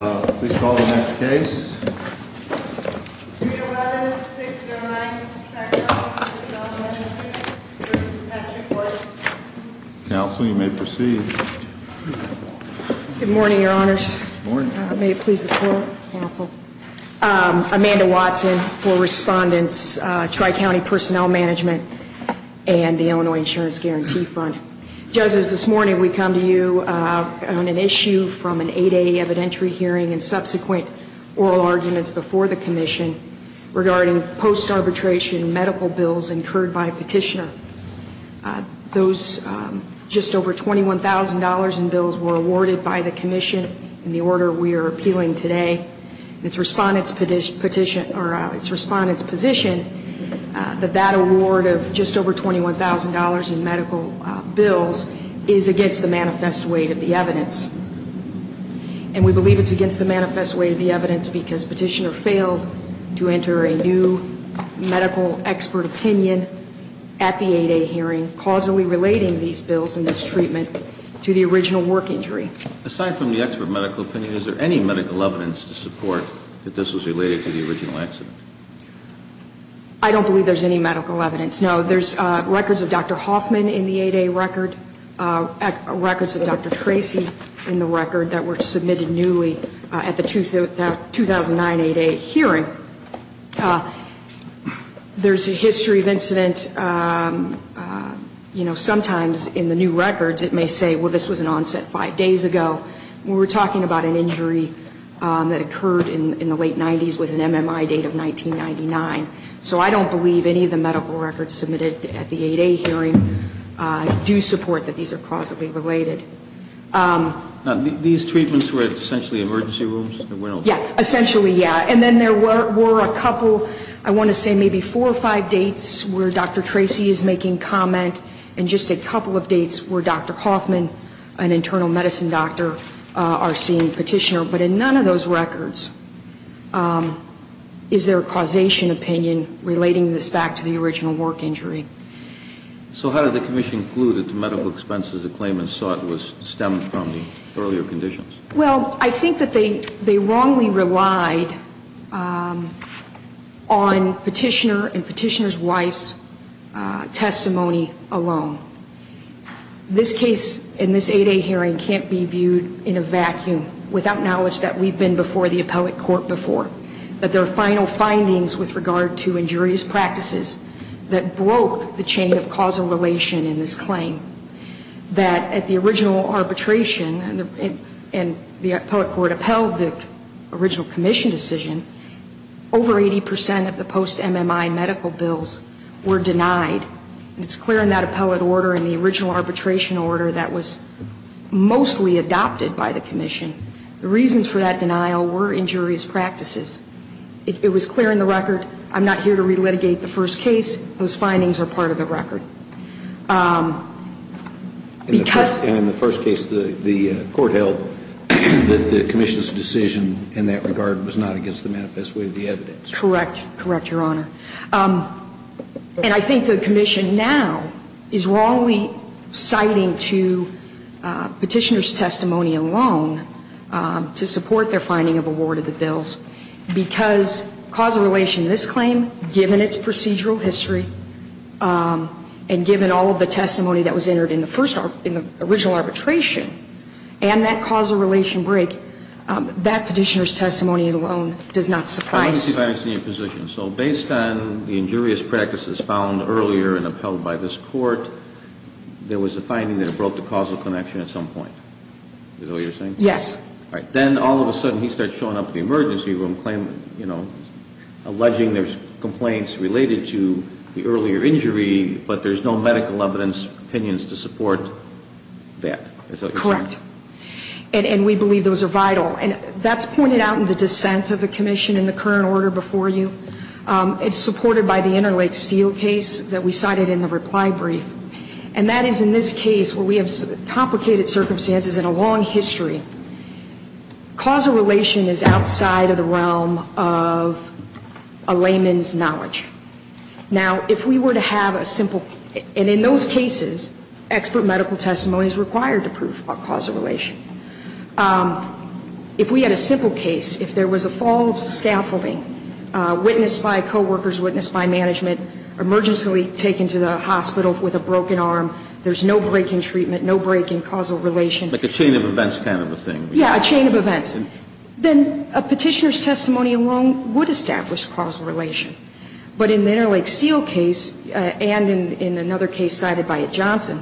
Please call the next case. Counsel, you may proceed. Good morning, Your Honors. May it please the floor. Amanda Watson for Respondents Tri-County Personnel Management and the Illinois Insurance Guarantee Fund. Judges, this morning we come to you on an issue from an 8A evidentiary hearing and subsequent oral arguments before the Commission regarding post-arbitration medical bills incurred by a petitioner. Those just over $21,000 in bills were awarded by the Commission in the order we are appealing today. It's Respondent's position that that award of just over $21,000 in medical bills is against the manifest weight of the evidence. And we believe it's against the manifest weight of the evidence because Petitioner failed to enter a new medical expert opinion at the 8A hearing causally relating these bills and this treatment to the original work injury. Aside from the expert medical opinion, is there any medical evidence to support that this was related to the original accident? I don't believe there's any medical evidence. No. There's records of Dr. Hoffman in the 8A record, records of Dr. Tracy in the record that were submitted newly at the 2009 8A hearing. There's a history of incident, you know, sometimes in the new records it may say, well, this was an onset five days ago. We're talking about an injury that occurred in the late 90s with an MMI date of 1999. So I don't believe any of the medical records submitted at the 8A hearing do support that these are causally related. These treatments were essentially emergency rooms? Yeah, essentially, yeah. And then there were a couple, I want to say maybe four or five dates where Dr. Tracy is making comment and just a couple of dates where Dr. Hoffman, an internal medicine doctor, our seeing Petitioner. But in none of those records is there a causation opinion relating this back to the original work injury. So how did the commission conclude that the medical expenses the claimants sought stemmed from the earlier conditions? Well, I think that they wrongly relied on Petitioner and Petitioner's wife's testimony alone. This case in this 8A hearing can't be viewed in a vacuum without knowledge that we've been before the appellate court before. That there are final findings with regard to injurious practices that broke the chain of causal relation in this claim. That at the original arbitration and the appellate court upheld the original commission decision, over 80% of the post-MMI medical bills were denied. And it's clear in that appellate order and the original arbitration order that was mostly adopted by the commission. The reasons for that denial were injurious practices. It was clear in the record, I'm not here to relitigate the first case. Those findings are part of the record. Because. And in the first case the court held that the commission's decision in that regard was not against the manifest way of the evidence. Correct. Correct, Your Honor. And I think the commission now is wrongly citing to Petitioner's testimony alone to support their finding of a ward of the bills. Because causal relation in this claim, given its procedural history, and given all of the testimony that was entered in the first original arbitration, and that causal relation break, that Petitioner's testimony alone does not surprise. Let me see if I understand your position. So based on the injurious practices found earlier and upheld by this Court, there was a finding that it broke the causal connection at some point. Is that what you're saying? Yes. All right. Then all of a sudden he starts showing up in the emergency room claiming, you know, alleging there's complaints related to the earlier injury, but there's no medical evidence, opinions to support that. Correct. And we believe those are vital. And that's pointed out in the dissent of the commission in the current order before you. It's supported by the Interlake Steel case that we cited in the reply brief. And that is in this case where we have complicated circumstances and a long history. Causal relation is outside of the realm of a layman's knowledge. Now, if we were to have a simple, and in those cases, expert medical testimony is required to prove causal relation. If we had a simple case, if there was a fall of scaffolding, witnessed by coworkers, witnessed by management, emergently taken to the hospital with a broken arm, there's no break in treatment, no break in causal relation. Like a chain of events kind of a thing. Yeah, a chain of events. Then a Petitioner's testimony alone would establish causal relation. But in the Interlake Steel case and in another case cited by Johnson,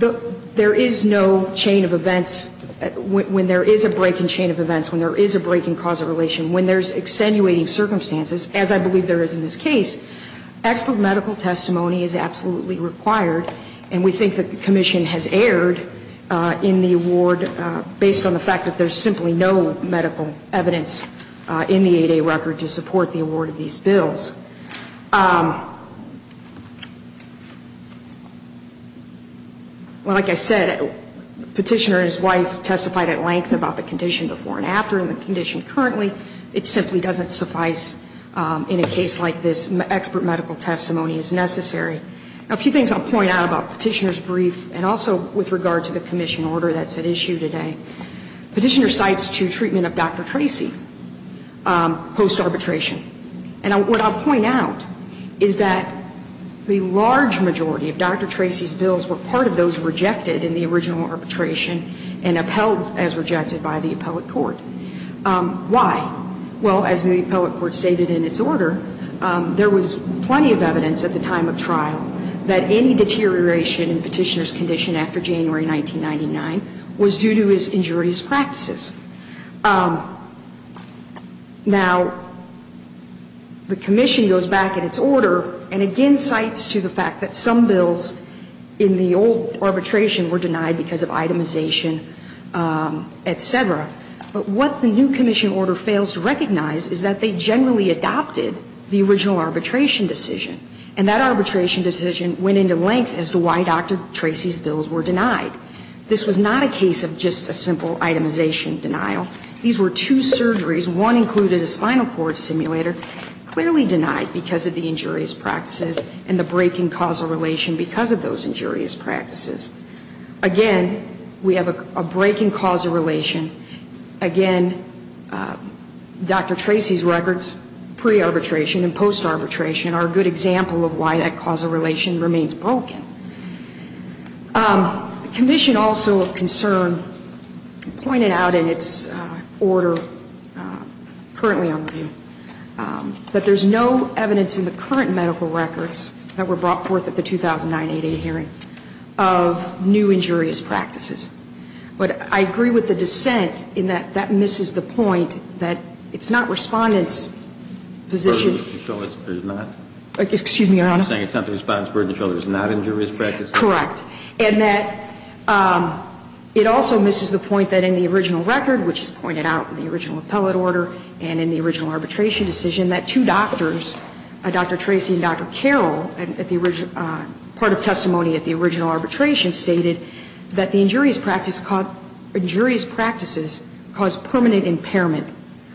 there is no chain of events when there is a break in chain of events, when there is a break in causal And so, in those circumstances, as I believe there is in this case, expert medical testimony is absolutely required. And we think that the Commission has erred in the award based on the fact that there's simply no medical evidence in the 8A record to support the award of these bills. Well, like I said, Petitioner and his wife testified at length about the condition before and after and the condition currently. It simply doesn't suffice in a case like this. Expert medical testimony is necessary. Now, a few things I'll point out about Petitioner's brief and also with regard to the Commission order that's at issue today. Petitioner cites to treatment of Dr. Tracy post-arbitration. And what I'll point out is that the large majority of Dr. Tracy's bills were part of those rejected in the original arbitration and upheld as rejected by the appellate court. Why? Well, as the appellate court stated in its order, there was plenty of evidence at the time of trial that any deterioration in Petitioner's condition after January 1999 was due to his injurious practices. Now, the Commission goes back in its order and again cites to the fact that some bills in the old arbitration were denied because of itemization, et cetera. But what the new Commission order fails to recognize is that they generally adopted the original arbitration decision, and that arbitration decision went into length as to why Dr. Tracy's bills were denied. This was not a case of just a simple itemization denial. These were two surgeries. One included a spinal cord simulator, clearly denied because of the injurious practices and the breaking causal relation because of those injurious practices. Again, we have a breaking causal relation. Again, Dr. Tracy's records pre-arbitration and post-arbitration are a good example of why that causal relation remains broken. The Commission also of concern pointed out in its order currently on review that there's no evidence in the current medical records that were brought forth at the 2009 888 hearing of new injurious practices. But I agree with the dissent in that that misses the point that it's not Respondent's position. It's not the Respondent's burden to show there's not injurious practices. Correct. And that it also misses the point that in the original record, which is pointed out in the original appellate order and in the original arbitration decision, that two doctors, Dr. Tracy and Dr. Carroll, part of testimony at the original arbitration, stated that the injurious practices caused permanent impairment,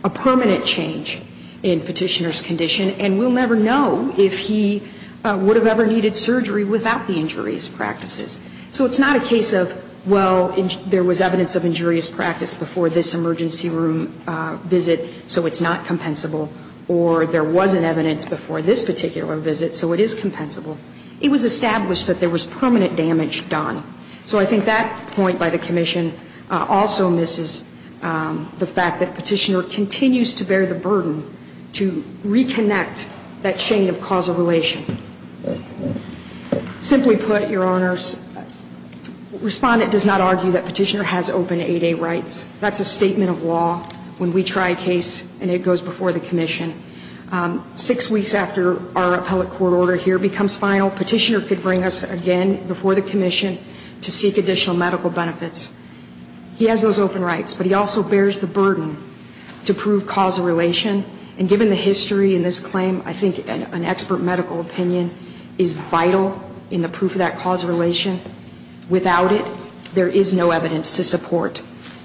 a permanent change in Petitioner's condition. And we'll never know if he would have ever needed surgery without the injurious practices. So it's not a case of, well, there was evidence of injurious practice before this emergency room visit, so it's not compensable, or there wasn't evidence before this particular visit, so it is compensable. It was established that there was permanent damage done. So I think that point by the Commission also misses the fact that Petitioner continues to bear the burden to reconnect that chain of causal relation. Simply put, Your Honors, Respondent does not argue that Petitioner has open 8A rights. That's a statement of law when we try a case and it goes before the Commission. Six weeks after our appellate court order here becomes final, Petitioner could bring us again before the Commission to seek additional medical benefits. He has those open rights, but he also bears the burden to prove causal relation. And given the history in this claim, I think an expert medical opinion is vital in the proof of that causal relation. Without it, there is no evidence to support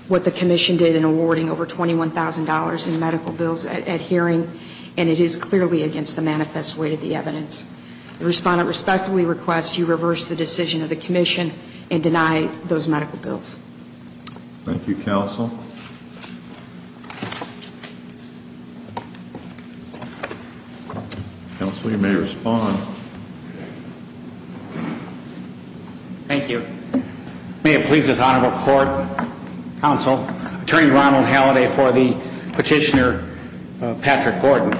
what the Commission did in awarding over $21,000 in medical bills at hearing, and it is clearly against the manifest weight of the evidence. The Respondent respectfully requests you reverse the decision of the Commission and deny those medical bills. Thank you, Counsel. Counsel, you may respond. Thank you. May it please this Honorable Court, Counsel, Attorney Ronald Halliday for the Petitioner Patrick Gordon.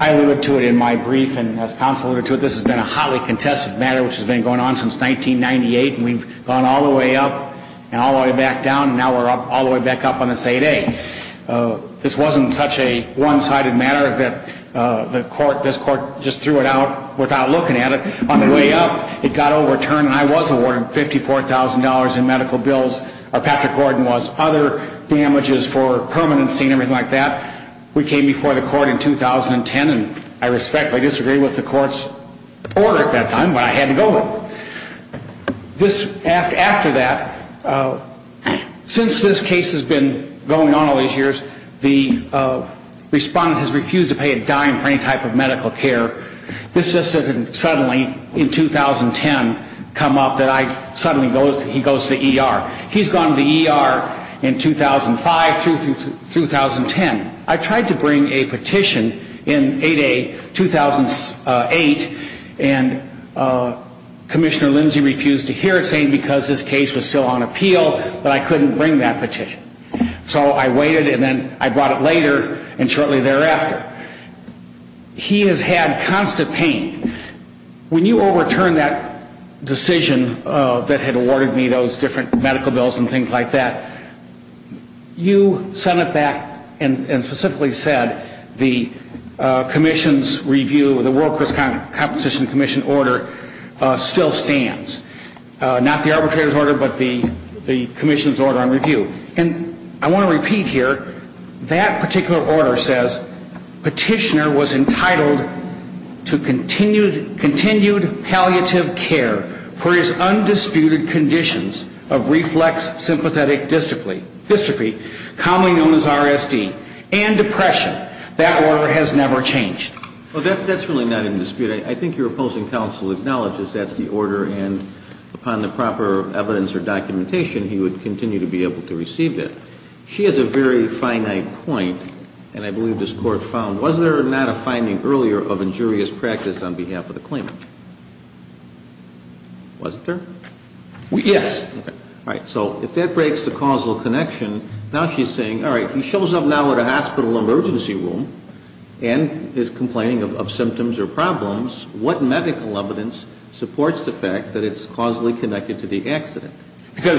I alluded to it in my brief, and as Counsel alluded to it, this has been a hotly contested matter which has been going on since 1998, and we've gone all the way up and all the way back down, and now we're all the way back up on this 8A. This wasn't such a one-sided matter that this Court just threw it out without looking at it. On the way up, it got overturned, and I was awarded $54,000 in medical bills, or Patrick Gordon. We came before the Court in 2010, and I respectfully disagree with the Court's order at that time, but I had to go with it. After that, since this case has been going on all these years, the Respondent has refused to pay a dime for any type of medical care. This just doesn't suddenly, in 2010, come up that he goes to the ER. He's gone to the ER in 2005 through 2010. I tried to bring a petition in 8A 2008, and Commissioner Lindsay refused to hear it, saying because this case was still on appeal that I couldn't bring that petition. So I waited, and then I brought it later, and shortly thereafter. He has had constant pain. When you overturned that decision that had awarded me those different medical bills and things like that, you sent it back and specifically said the World Crisis Competition Commission order still stands. Not the arbitrator's order, but the Commission's order on review. And I want to repeat here, that particular order says petitioner was entitled to continued palliative care for his undisputed conditions of reflex sympathetic dystrophy, commonly known as RSD, and depression. That order has never changed. Well, that's really not in dispute. I think your opposing counsel acknowledges that's the order, and upon the proper evidence or documentation, he would continue to be able to receive it. She has a very finite point, and I believe this Court found, was there not a finding earlier of injurious practice on behalf of the claimant? Wasn't there? Yes. All right. So if that breaks the causal connection, now she's saying, all right, he shows up now at a hospital emergency room and is complaining of symptoms or problems. What medical evidence supports the fact that it's causally connected to the accident? Because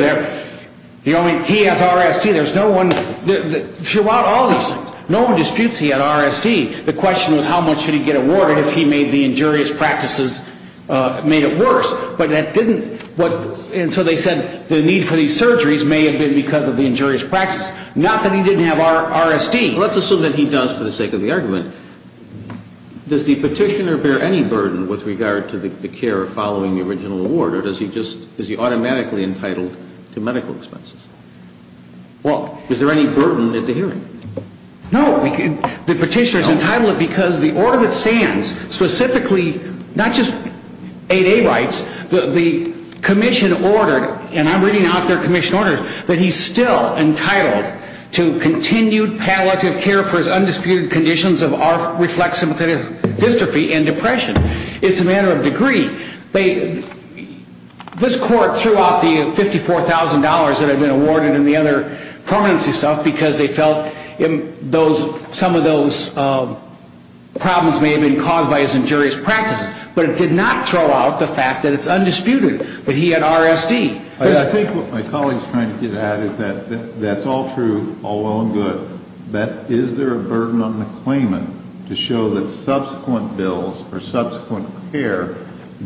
he has RSD. There's no one throughout all these things. No one disputes he had RSD. The question was how much should he get awarded if he made the injurious practices, made it worse. But that didn't. And so they said the need for these surgeries may have been because of the injurious practices. Not that he didn't have RSD. Let's assume that he does for the sake of the argument. Does the petitioner bear any burden with regard to the care following the original award? Or does he just, is he automatically entitled to medical expenses? Well, is there any burden at the hearing? No. The petitioner is entitled because the order that stands specifically, not just 8A rights, the commission ordered, and I'm reading out their commission orders, that he's still entitled to continued palliative care for his undisputed conditions of R-reflex sympathetic dystrophy and depression. It's a matter of degree. This court threw out the $54,000 that had been awarded and the other permanency stuff because they felt some of those problems may have been caused by his injurious practices. But it did not throw out the fact that it's undisputed that he had RSD. I think what my colleague is trying to get at is that that's all true, all well and good, but is there a burden on the claimant to show that subsequent bills for subsequent care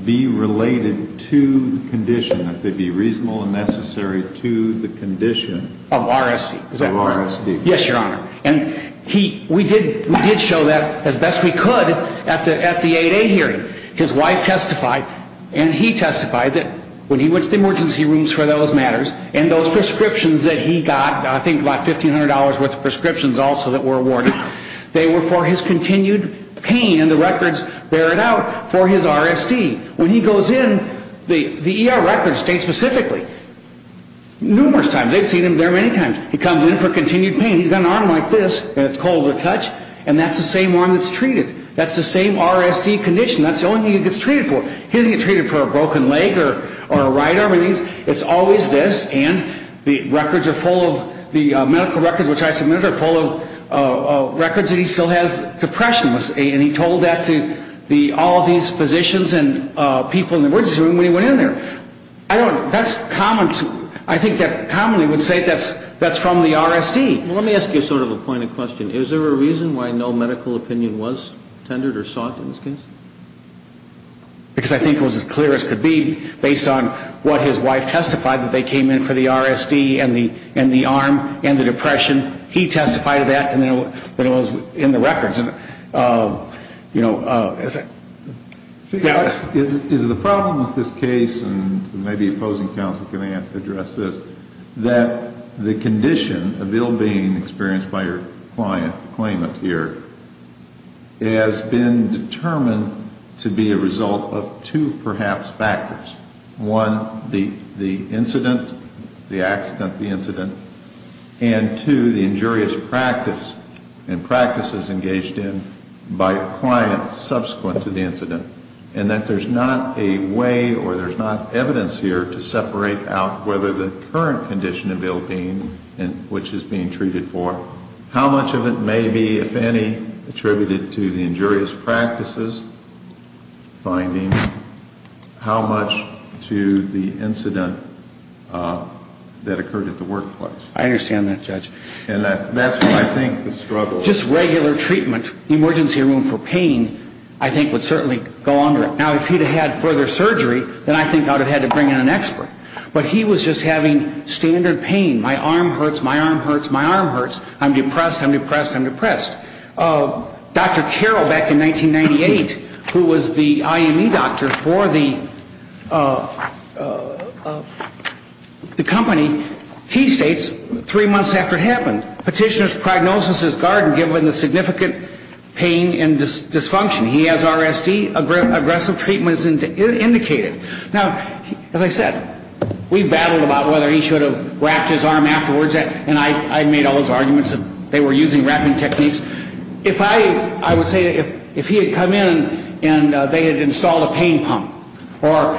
be related to the condition, that they be reasonable and necessary to the condition of RSD? Yes, Your Honor. And we did show that as best we could at the 8A hearing. His wife testified and he testified that when he went to the emergency rooms for those matters and those prescriptions that he got, I think about $1,500 worth of prescriptions also that were awarded, they were for his continued pain and the records bear it out for his RSD. When he goes in, the ER records state specifically, numerous times, they've seen him there many times, he comes in for continued pain, he's got an arm like this and it's cold to touch and that's the same arm that's treated. That's the same RSD condition. That's the only thing he gets treated for. He doesn't get treated for a broken leg or a right arm. It's always this and the records are full of, the medical records which I submitted are full of records that he still has depression and he told that to all of these physicians and people in the emergency room when he went in there. I don't, that's common, I think that commonly would say that's from the RSD. Let me ask you sort of a pointed question. Is there a reason why no medical opinion was tendered or sought in this case? Because I think it was as clear as could be based on what his wife testified that they came in for the RSD and the arm and the depression. He testified to that and then it was in the records. You know, is it? Is the problem with this case, and maybe opposing counsel can address this, that the condition of ill-being experienced by your client, claimant here, has been determined to be a result of two perhaps factors. One, the incident, the accident, the incident, and two, the injurious practice and practices engaged in by a client subsequent to the incident and that there's not a way or there's not evidence here to separate out whether the current condition of ill-being which is being treated for, how much of it may be, if any, attributed to the injurious practices finding, how much to the incident that occurred at the workplace? I understand that, Judge. And that's what I think the struggle is. Just regular treatment. Emergency room for pain I think would certainly go under it. Now, if he'd have had further surgery, then I think I would have had to bring in an expert. But he was just having standard pain. My arm hurts. My arm hurts. My arm hurts. I'm depressed. I'm depressed. I'm depressed. Dr. Carroll, back in 1998, who was the IME doctor for the company, he states, three months after it happened, petitioner's prognosis is garden given the significant pain and dysfunction. He has RSD aggressive treatments indicated. Now, as I said, we battled about whether he should have wrapped his arm afterwards. And I made all those arguments that they were using wrapping techniques. If I would say if he had come in and they had installed a pain pump or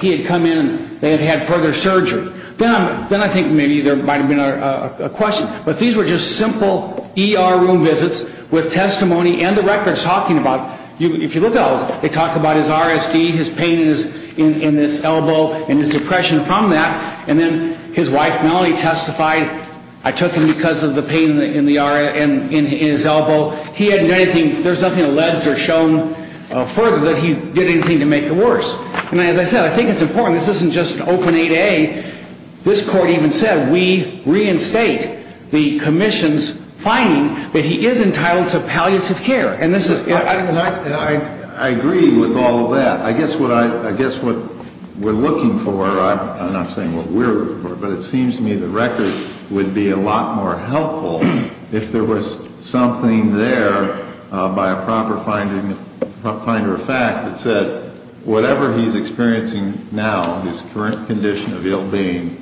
he had come in and they had had further surgery, then I think maybe there might have been a question. But these were just simple ER room visits with testimony and the records talking about, if you look at those, they talk about his RSD, his pain in his elbow, and his depression from that. And then his wife, Melanie, testified, I took him because of the pain in his elbow. He hadn't done anything. There's nothing alleged or shown further that he did anything to make it worse. And as I said, I think it's important. This isn't just open A to A. This Court even said we reinstate the commission's finding that he is entitled to palliative care. And this is ‑‑ I agree with all of that. I guess what we're looking for, I'm not saying what we're looking for, but it seems to me the records would be a lot more helpful if there was something there by a proper finder of fact that said whatever he's experiencing now, his current condition of ill being,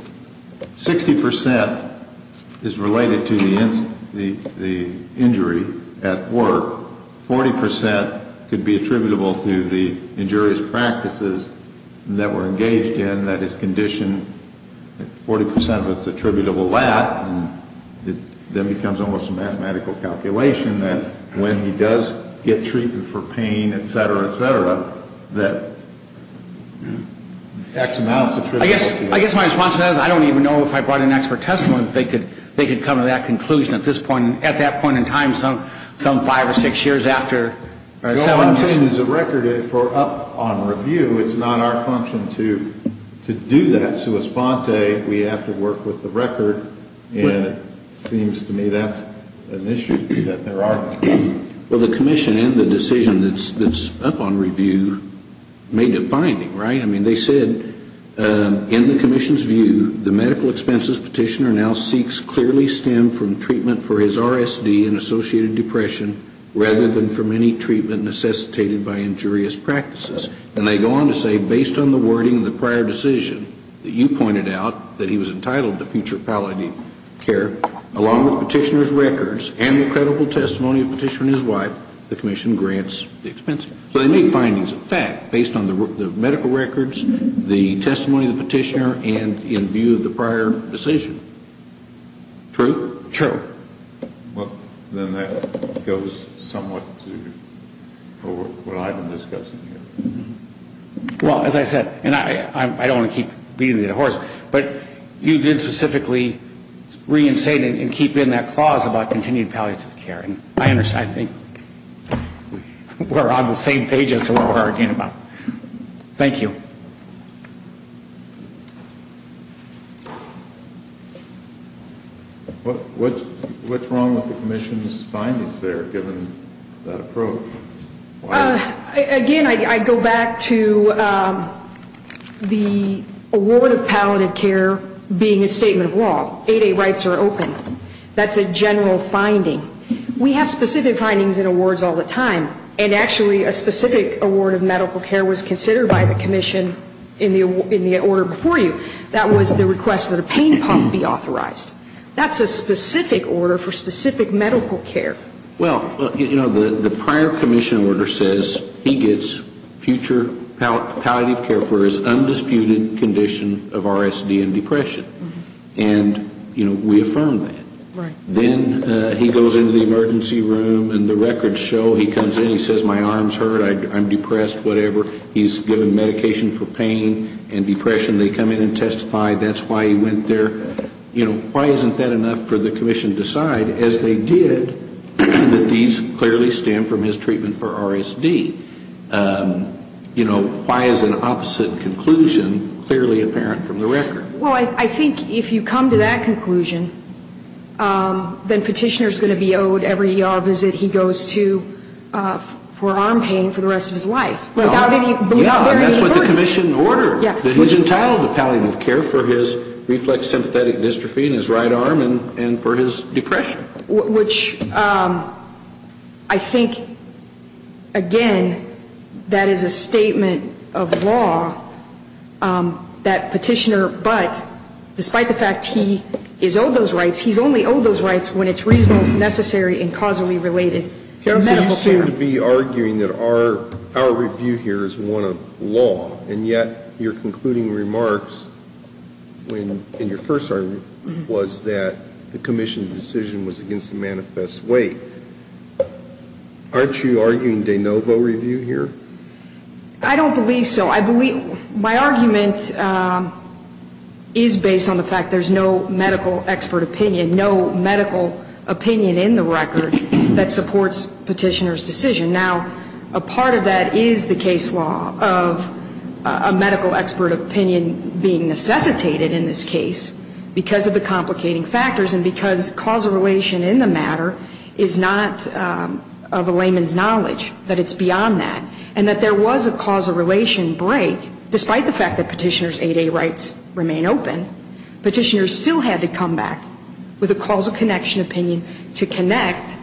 60% is related to the injury at work. 40% could be attributable to the injurious practices that were engaged in that his condition, 40% of it is attributable to that. And then it becomes almost a mathematical calculation that when he does get treatment for pain, et cetera, et cetera, that X amount is attributable to that. I guess my response to that is I don't even know if I brought an expert testimony that they could come to that conclusion at this point, at that point in time, some five or six years after. What I'm saying is the record is for up on review. It's not our function to do that sui sponte. We have to work with the record. And it seems to me that's an issue that there are. Well, the commission and the decision that's up on review made a finding, right? I mean, they said in the commission's view, the medical expenses petitioner now seeks clearly stem from treatment for his RSD and associated depression rather than from any treatment necessitated by injurious practices. And they go on to say based on the wording of the prior decision that you pointed out, that he was entitled to future care, along with the petitioner's records and the credible testimony of the petitioner and his wife, the commission grants the expense. So they made findings of fact based on the medical records, the testimony of the petitioner, and in view of the prior decision. True? True. Well, then that goes somewhat to what I've been discussing here. Well, as I said, and I don't want to keep beating the horse, but you did specifically reinstate and keep in that clause about continued palliative care. And I think we're on the same page as to what we're arguing about. Thank you. What's wrong with the commission's findings there, given that approach? Again, I go back to the award of palliative care being a statement of law. 8A rights are open. That's a general finding. We have specific findings in awards all the time. And actually, a specific award of medical care was considered by the commission in the order before you. That was the request that a pain pump be authorized. That's a specific order for specific medical care. Well, you know, the prior commission order says he gets future palliative care for his undisputed condition of RSD and depression. And, you know, we affirm that. Then he goes into the emergency room and the records show he comes in, he says my arms hurt, I'm depressed, whatever. He's given medication for pain and depression. They come in and testify, that's why he went there. You know, why isn't that enough for the commission to decide? As they did, that these clearly stem from his treatment for RSD. You know, why is an opposite conclusion clearly apparent from the record? Well, I think if you come to that conclusion, then Petitioner's going to be owed every ER visit he goes to for arm pain for the rest of his life. Without any belief there is any hurt. He's entitled to palliative care for his reflex sympathetic dystrophy in his right arm and for his depression. Which I think, again, that is a statement of law that Petitioner, but despite the fact he is owed those rights, he's only owed those rights when it's reasonable, necessary, and causally related. They're medical care. You seem to be arguing that our review here is one of law. And yet your concluding remarks in your first argument was that the commission's decision was against the manifest weight. Aren't you arguing de novo review here? I don't believe so. My argument is based on the fact there's no medical expert opinion, no medical opinion in the record that supports Petitioner's decision. Now, a part of that is the case law of a medical expert opinion being necessitated in this case because of the complicating factors and because causal relation in the matter is not of a layman's knowledge, that it's beyond that. And that there was a causal relation break despite the fact that Petitioner's 8A rights remain open. Petitioner still had to come back with a causal connection opinion to connect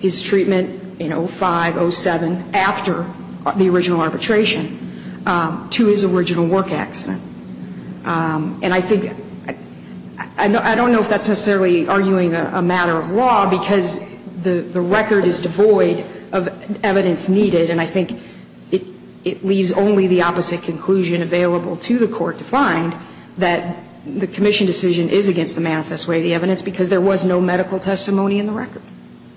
his treatment in 05, 07, after the original arbitration to his original work accident. And I think, I don't know if that's necessarily arguing a matter of law because the record is devoid of evidence needed. And I think it leaves only the opposite conclusion available to the Court to find, that the commission decision is against the manifest weight of the evidence because there was no medical testimony in the record.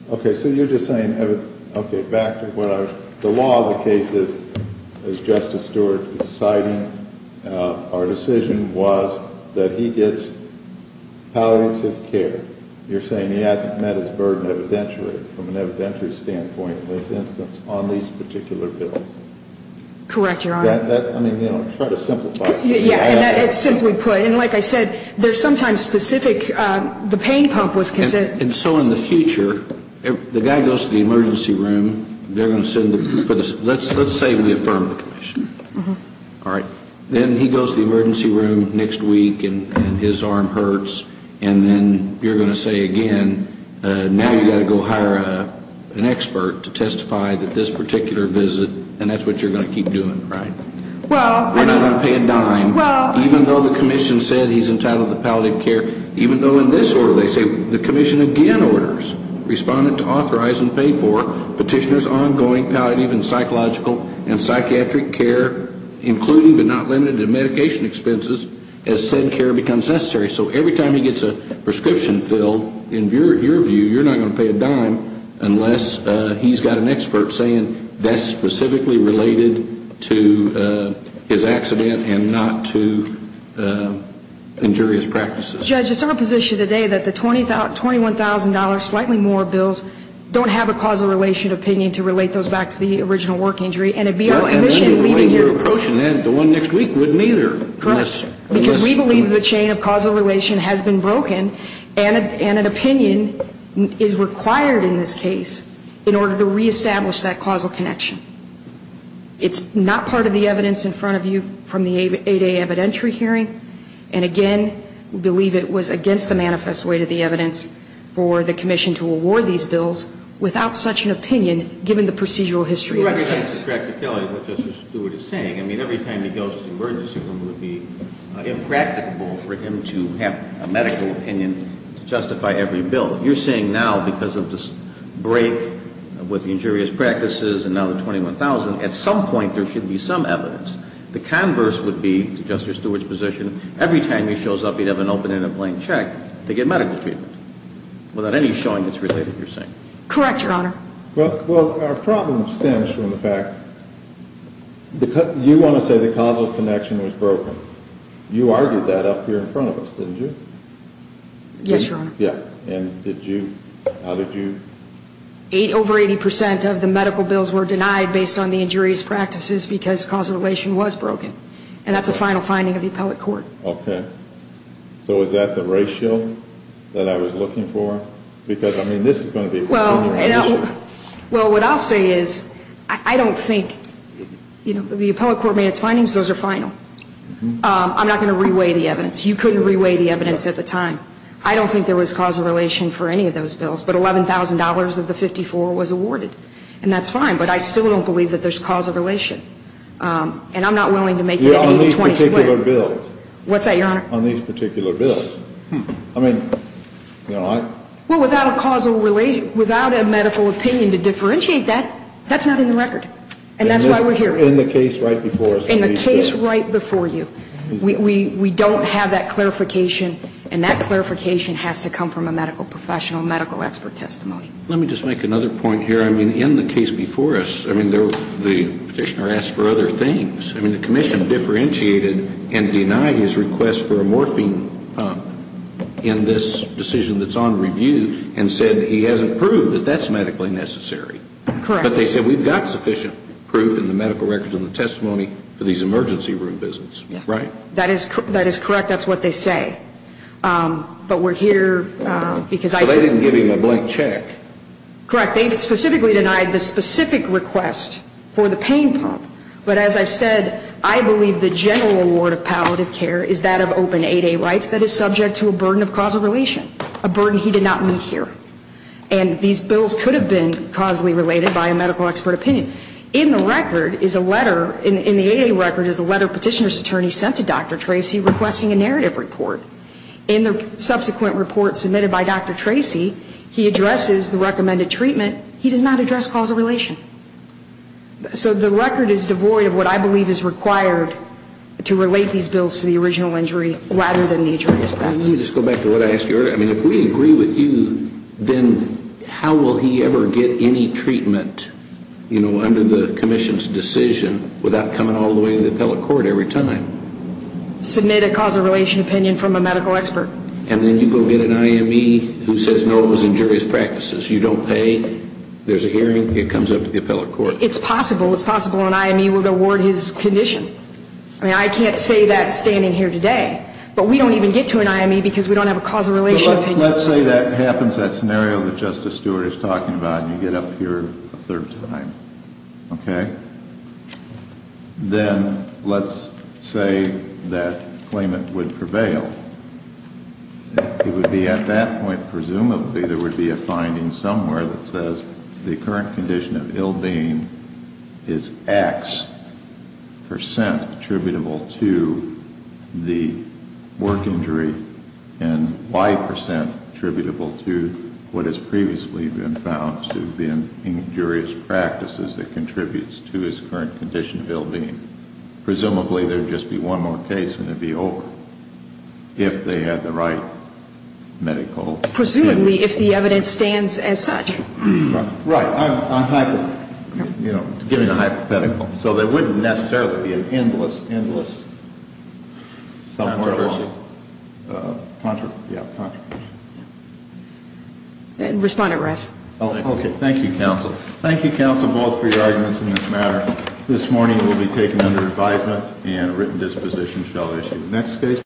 Okay. So you're just saying, okay, back to what I was, the law of the case is, as Justice Stewart is citing, our decision was that he gets palliative care. You're saying he hasn't met his burden evidentially from an evidentiary standpoint in this instance on these particular bills. Correct, Your Honor. I mean, you know, try to simplify it. Yeah. And it's simply put. And like I said, there's sometimes specific, the pain pump was considered. And so in the future, the guy goes to the emergency room, they're going to send, let's say we affirm the commission. All right. Then he goes to the emergency room next week and his arm hurts, and then you're going to say again, now you've got to go hire an expert to testify that this particular visit, and that's what you're going to keep doing, right? Well. We're not going to pay a dime. Well. Even though the commission said he's entitled to palliative care, even though in this order they say the commission again orders respondent to authorize and pay for petitioner's ongoing palliative and psychological and psychiatric care, including but not limited to medication expenses as said care becomes necessary. So every time he gets a prescription filled, in your view, you're not going to pay a dime unless he's got an expert saying that's specifically related to his accident and not to injurious practices. Judge, it's our position today that the $21,000, slightly more bills, don't have a causal relation opinion to relate those back to the original work injury. And it would be our ambition. The one you're approaching then, the one next week, wouldn't either. Correct. Because we believe the chain of causal relation has been broken and an opinion is required in this case in order to reestablish that causal connection. It's not part of the evidence in front of you from the 8A evidentiary hearing. And again, we believe it was against the manifest way to the evidence for the commission to award these bills without such an opinion, given the procedural history of this case. You're right. It's a practicality of what Justice Stewart is saying. I mean, every time he goes to the emergency room, it would be impracticable for him to have a medical opinion to justify every bill. You're saying now because of this break with the injurious practices and now the $21,000, at some point there should be some evidence. The converse would be, to Justice Stewart's position, every time he shows up, he'd have an open-ended plain check to get medical treatment without any showing that's related, you're saying. Correct, Your Honor. Well, our problem stems from the fact you want to say the causal connection was broken. You argued that up here in front of us, didn't you? Yes, Your Honor. Yeah. And did you or how did you? Over 80% of the medical bills were denied based on the injurious practices because causal relation was broken. And that's a final finding of the appellate court. Okay. So is that the ratio that I was looking for? Because, I mean, this is going to be a big issue. Well, what I'll say is I don't think, you know, the appellate court made its findings, those are final. I'm not going to reweigh the evidence. You couldn't reweigh the evidence at the time. I don't think there was causal relation for any of those bills. But $11,000 of the 54 was awarded. And that's fine. But I still don't believe that there's causal relation. And I'm not willing to make that 80-20 split. Yeah, on these particular bills. What's that, Your Honor? On these particular bills. I mean, you know, I. Well, without a causal relation, without a medical opinion to differentiate that, that's not in the record. And that's why we're here. In the case right before us. In the case right before you. We don't have that clarification. And that clarification has to come from a medical professional, medical expert testimony. Let me just make another point here. I mean, in the case before us, I mean, the Petitioner asked for other things. I mean, the Commission differentiated and denied his request for a morphine pump in this decision that's on review and said he hasn't proved that that's medically necessary. Correct. But they said we've got sufficient proof in the medical records and the testimony for these emergency room visits. Right? That is correct. That's what they say. But we're here because I said. So they didn't give him a blank check. Correct. They specifically denied the specific request for the pain pump. But as I've said, I believe the general award of palliative care is that of open 8A rights that is subject to a burden of causal relation, a burden he did not meet here. And these bills could have been causally related by a medical expert opinion. In the record is a letter, in the 8A record is a letter Petitioner's attorney sent to Dr. Tracy requesting a narrative report. In the subsequent report submitted by Dr. Tracy, he addresses the recommended treatment. He does not address causal relation. So the record is devoid of what I believe is required to relate these bills to the original injury rather than the attorney's press. Let me just go back to what I asked you earlier. I mean, if we agree with you, then how will he ever get any treatment, you know, under the commission's decision without coming all the way to the appellate court every time? Submit a causal relation opinion from a medical expert. And then you go get an IME who says, no, it was injurious practices. You don't pay. There's a hearing. It comes up to the appellate court. It's possible. It's possible an IME would award his condition. I mean, I can't say that standing here today. But we don't even get to an IME because we don't have a causal relation opinion. Let's say that happens, that scenario that Justice Stewart is talking about, and you get up here a third time. Okay? Then let's say that claimant would prevail. It would be at that point, presumably, there would be a finding somewhere that says the current condition of ill being is X percent attributable to the work injury and Y percent attributable to what has previously been found to be injurious practices that contributes to his current condition of ill being. Presumably, there would just be one more case and it would be over, if they had the right medical evidence. Presumably, if the evidence stands as such. Right. I'm giving a hypothetical. So there wouldn't necessarily be an endless, endless controversy. Controversy. Yeah. Controversy. And respond at rest. Okay. Thank you, counsel. Thank you, counsel, both, for your arguments in this matter. This morning it will be taken under advisement and a written disposition shall issue.